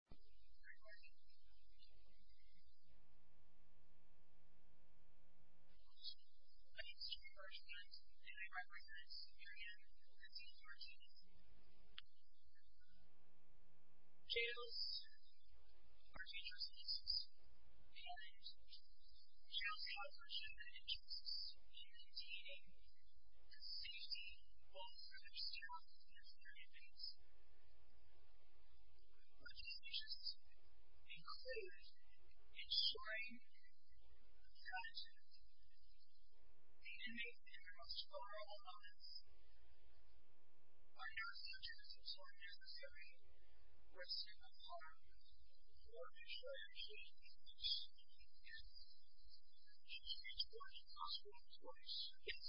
I am a student of Archie Hunt and I represent the area of the D.A.A.C. Jails are a dangerous place to serve. We have a new solution. Jails help protect the interests of the D.A.A. The safety of all prisoners here on the D.A.C. But can't we just include ensuring that the D.A.A. interests are all honest? I know some jails are sort of necessary. We're a simple part of the D.A.A. She's been to one hospital twice. Yes.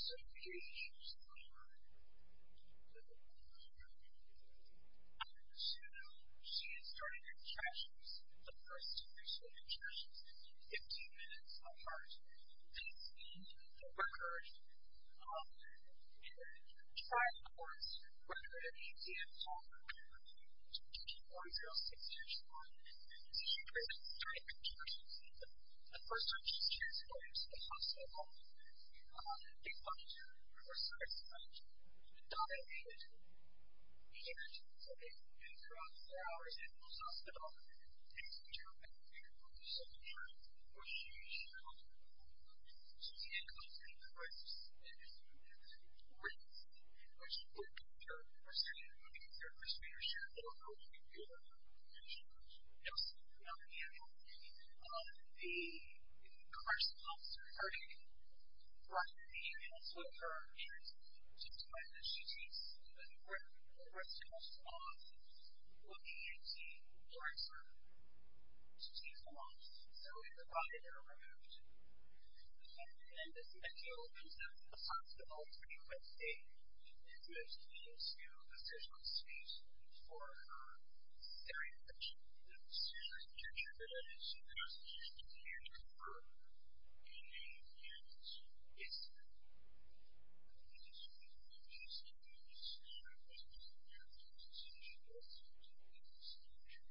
So, who is she serving? I don't know. So, she is serving in treasures. The first two years she served in treasures. Fifteen minutes of hard training. Please see the record. And she tried, of course, to record an E.T.M. talk. She was only about six years old. So, she was in treasures. The first time she was here, she was going to the hospital. They punished her. The first time they punished her. The D.A.A. made her do it. They made her do it. So, they put her on four hours in those hospitals. They put her on medication. They put her on medication. So, the D.A.A. comes in and questions her. And if she wins, or if she loses, or if she wins, they put her on prescription. They put her on prescription. They put her on medication. Yes, the D.A.A. The first officer heard it from the D.A.A. took her and just when she takes a breath, her breath tickles off. Well, the E.T. warms her. She takes a walk. So, we provide her with medicine. And the D.A.A. opens up the hospital pretty quickly and just gives you a visual space for her. Very quickly. The D.A.A. came in and said, I just need you to be here to confirm that you knew you were here. Yes, ma'am. And the D.A.A. said, Yes, ma'am. And the D.A.A. said, Yes, ma'am.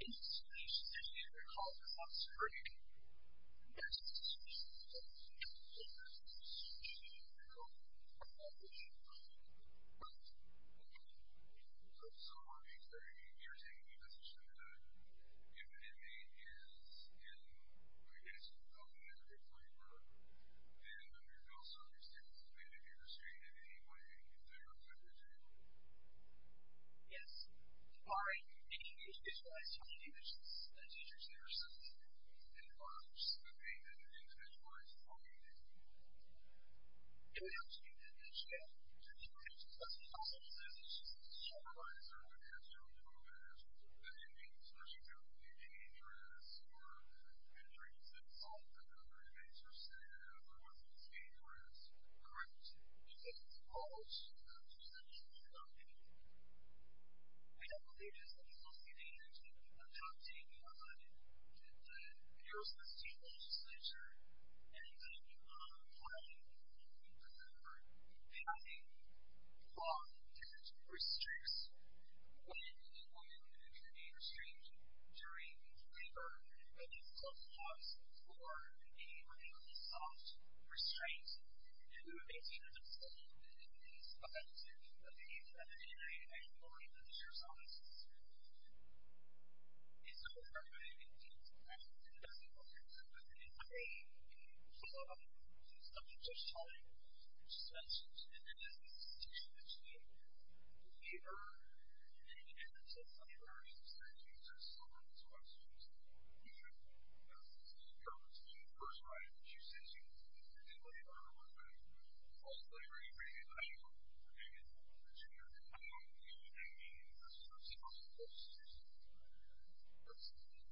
And the D.A.A. calls herself Surie. And there's a suspicion that she's a girl. Okay. So, you're saying that if an inmate is in, I guess, a mental health waver, then under those circumstances, if they did get restrained in any way, they were put in jail? Yes. All right. Any of you have visualized family members as teachers, nurses, and fathers that may have been visualized as being in jail? Can we ask you that question again? Can you imagine what's possible if this is just a supervisor that has their own job as an inmate, so they're not going to be dangerous or the injuries themselves that the other inmates are saying are the ones that are dangerous? Correct. I don't believe it's the police's intention of adopting the, you know, state legislature and, you know, filing a complaint, but, remember, they're not a law that restricts when a woman could be restrained during labor that is called a house or a relatively soft restraint to a situation that is offensive to the femininity and glory of the serious offences. It's not a requirement that a woman be restrained to the maximum extent possible. It's a, you know, it's a subject of scholarly research and it is a situation that should be aware of. We've heard, you know, we've had this on various occasions, there's so many questions about what we should do about this. You know, it's the first line that you say to a woman that normally relates both labor and labor will work together. I don't mean that too. A woman being the subject of this issue, that's absolutely absolutely important, that she's… that she embraces each other's experience as a justified difference between having labor and both labor and both freedom. And so, you know, it's not a selfish and acceptable decision and also just in general there is a issue of possible consequences not only for labor but also for freedom. And those consequences can be determined point between the person's response or the person's prediction of the consequences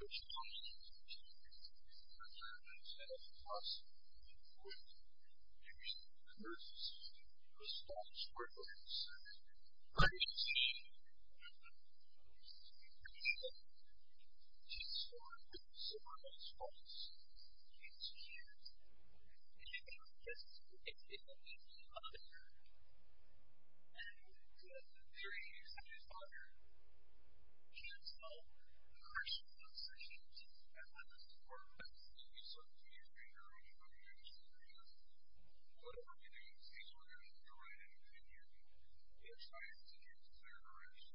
of the action. She's formed some of those false views and she's a mother and there is such a father can't help crushing the situation as a support for the subject or the organization because whatever he does he's already doing it in a way that you are trying to give consideration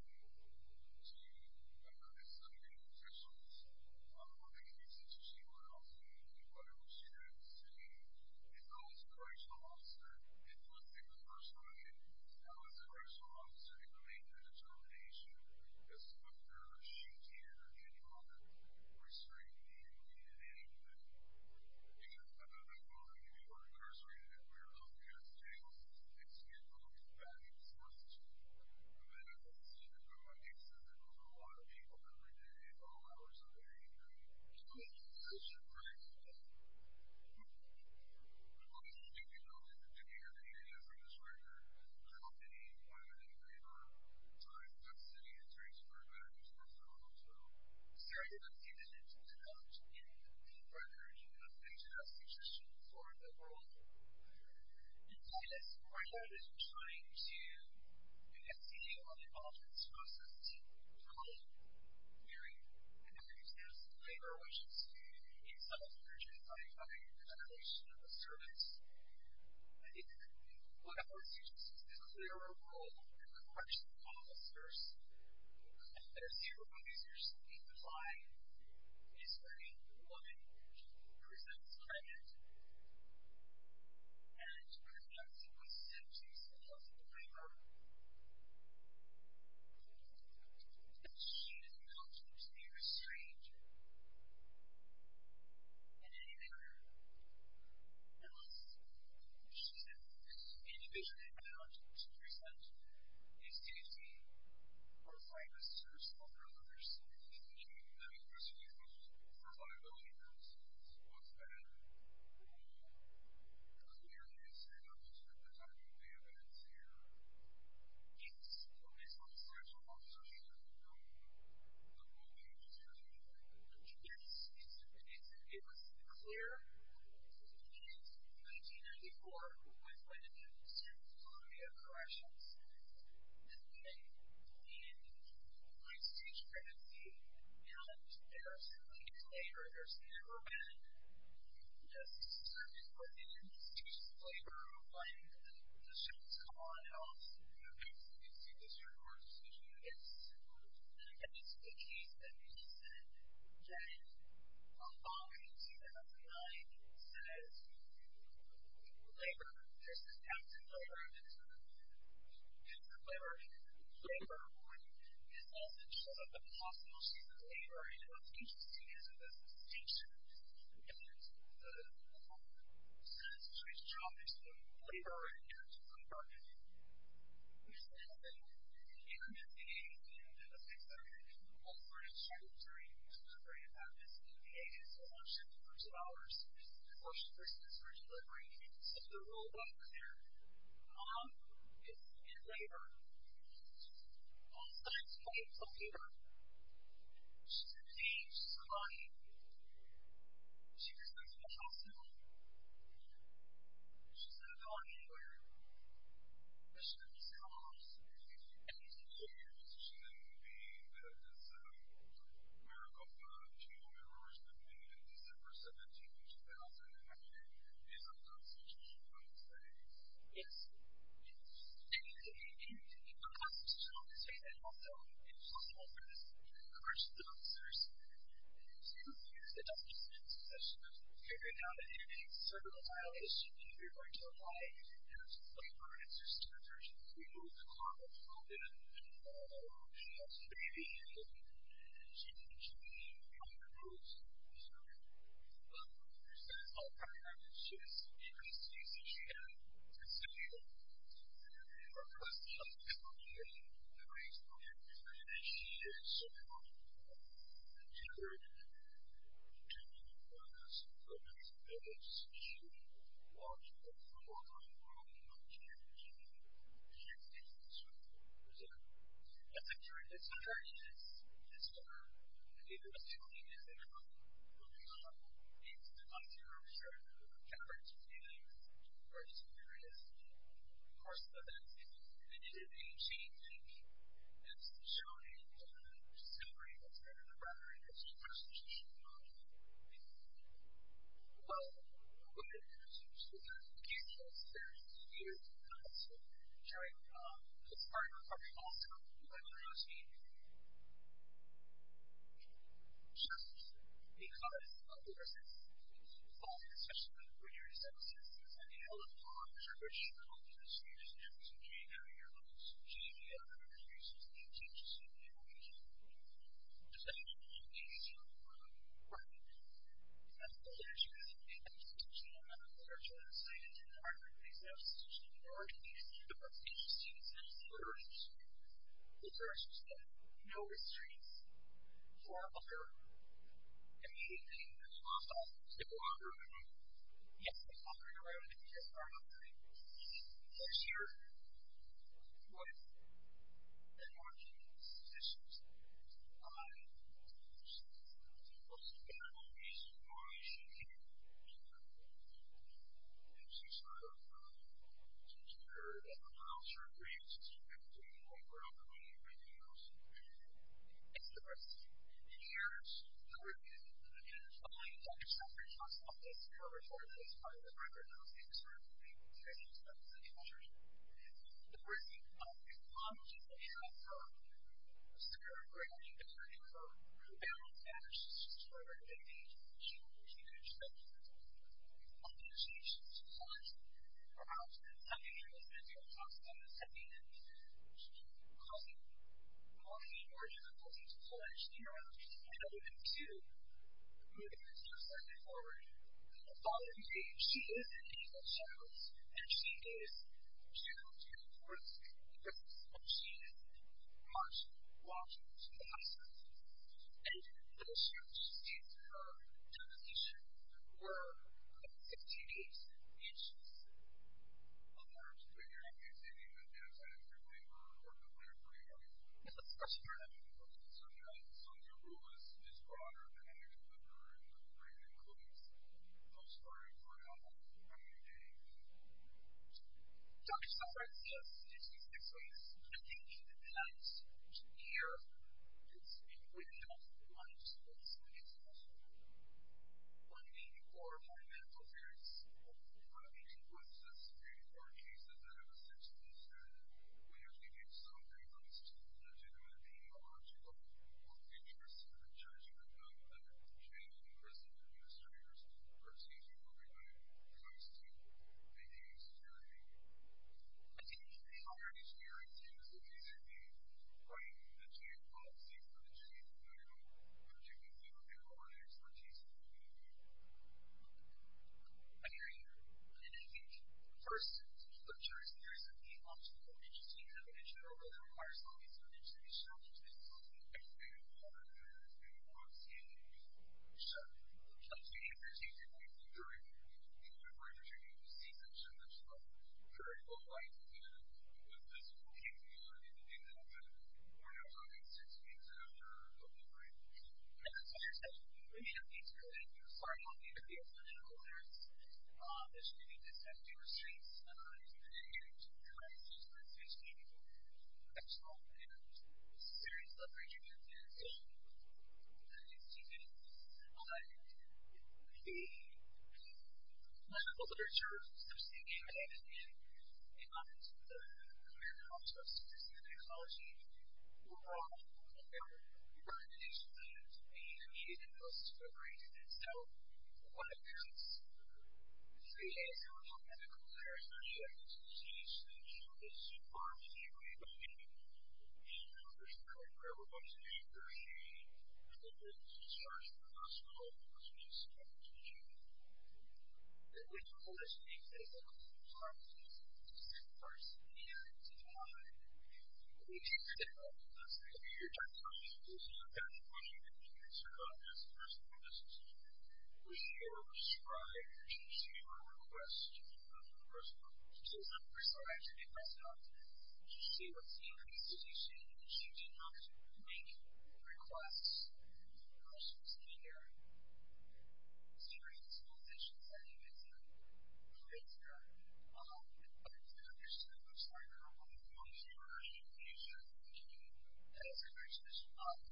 to this subject and fossil fossil of the constitution or else by which she had said I'm not a correctional officer unless I was persuading I was a correctional officer to make a determination as to whether she can or can not restrain me in anything because I know that most of you who are incarcerated and we are up against tables is scared of being badly forced to manifest in front of my eyes and not a correctional officer and I know that I am not a correctional officer and I know that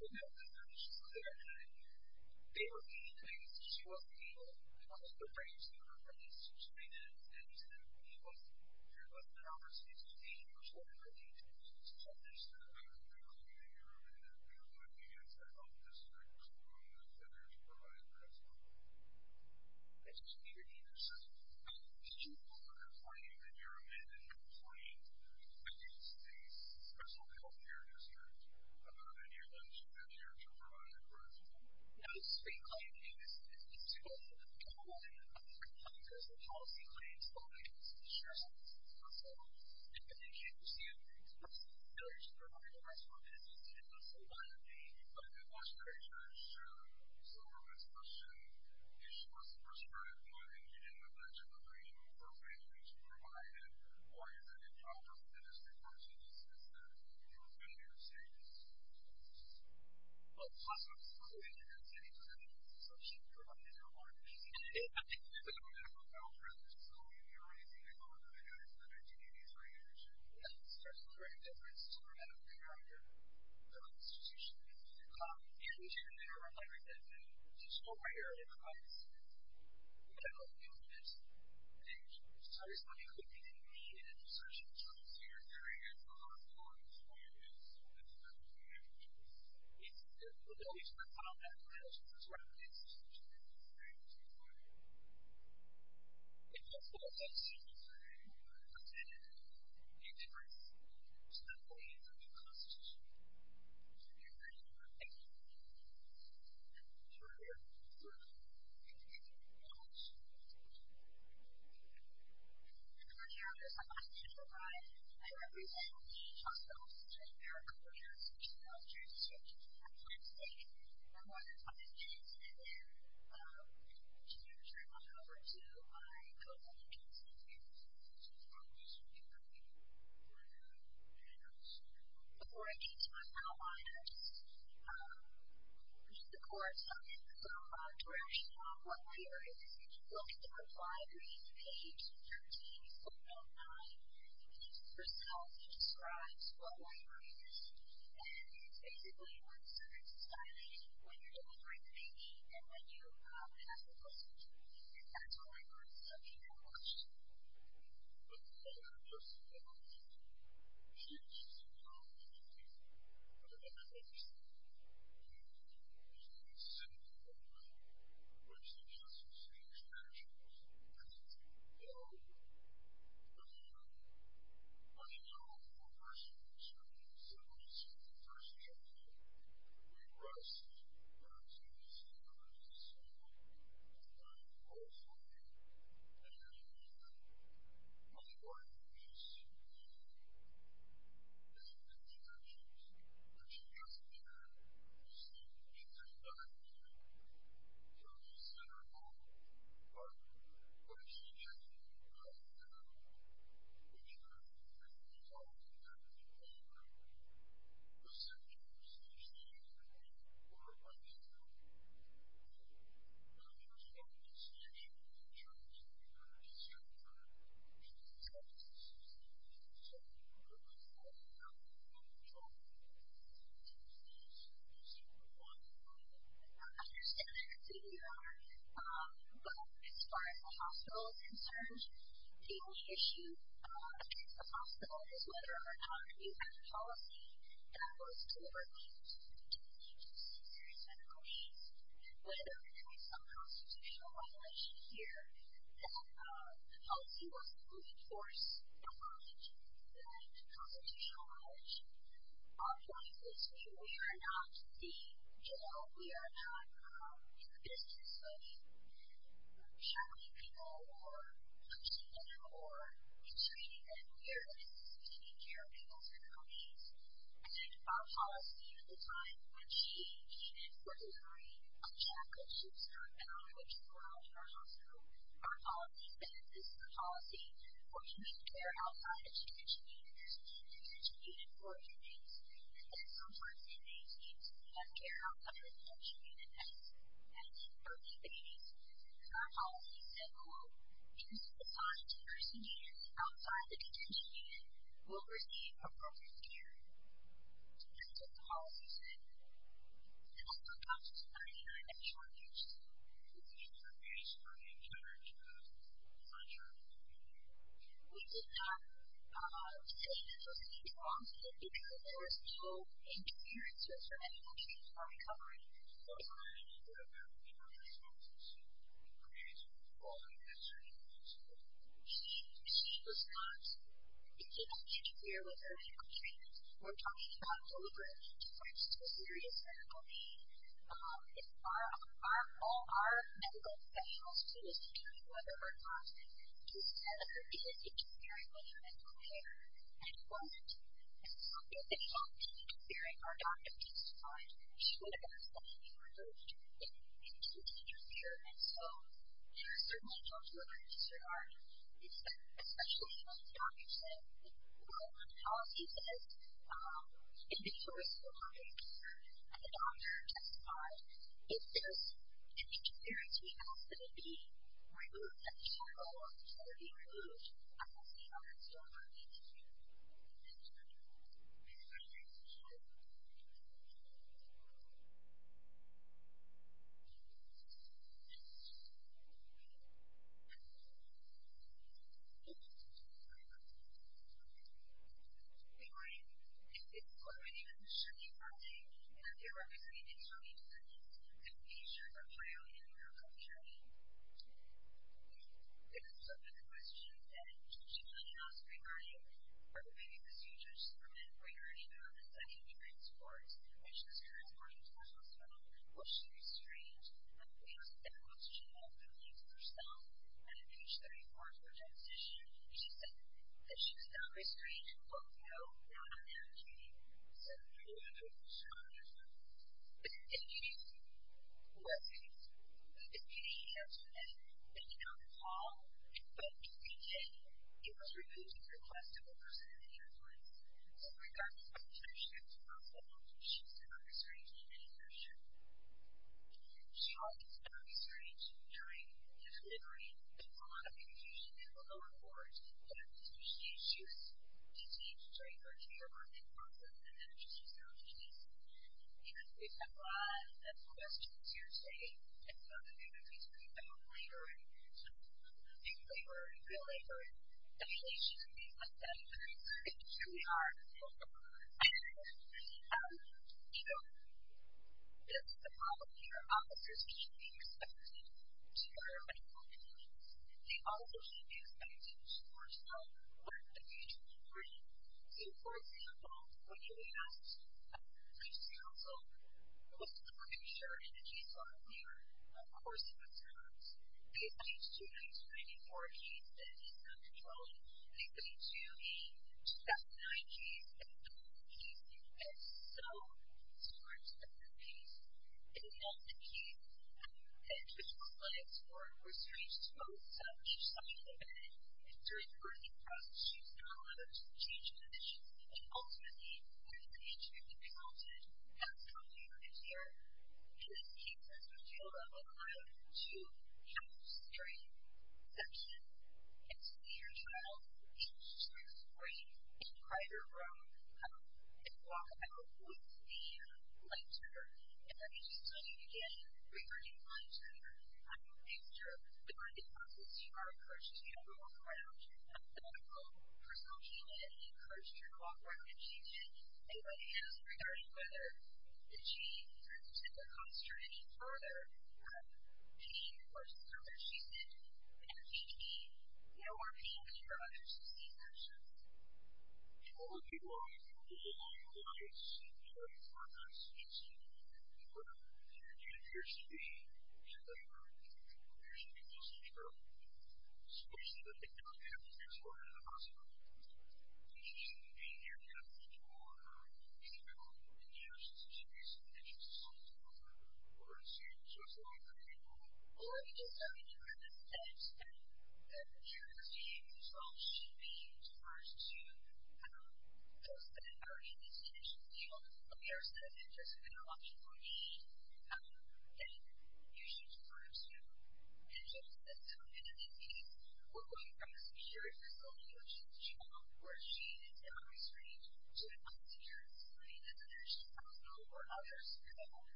I am not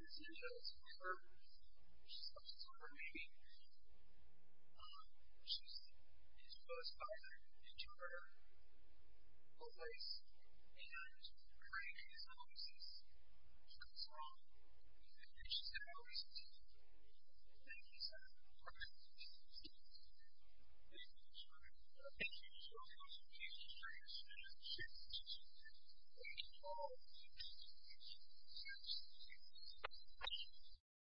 a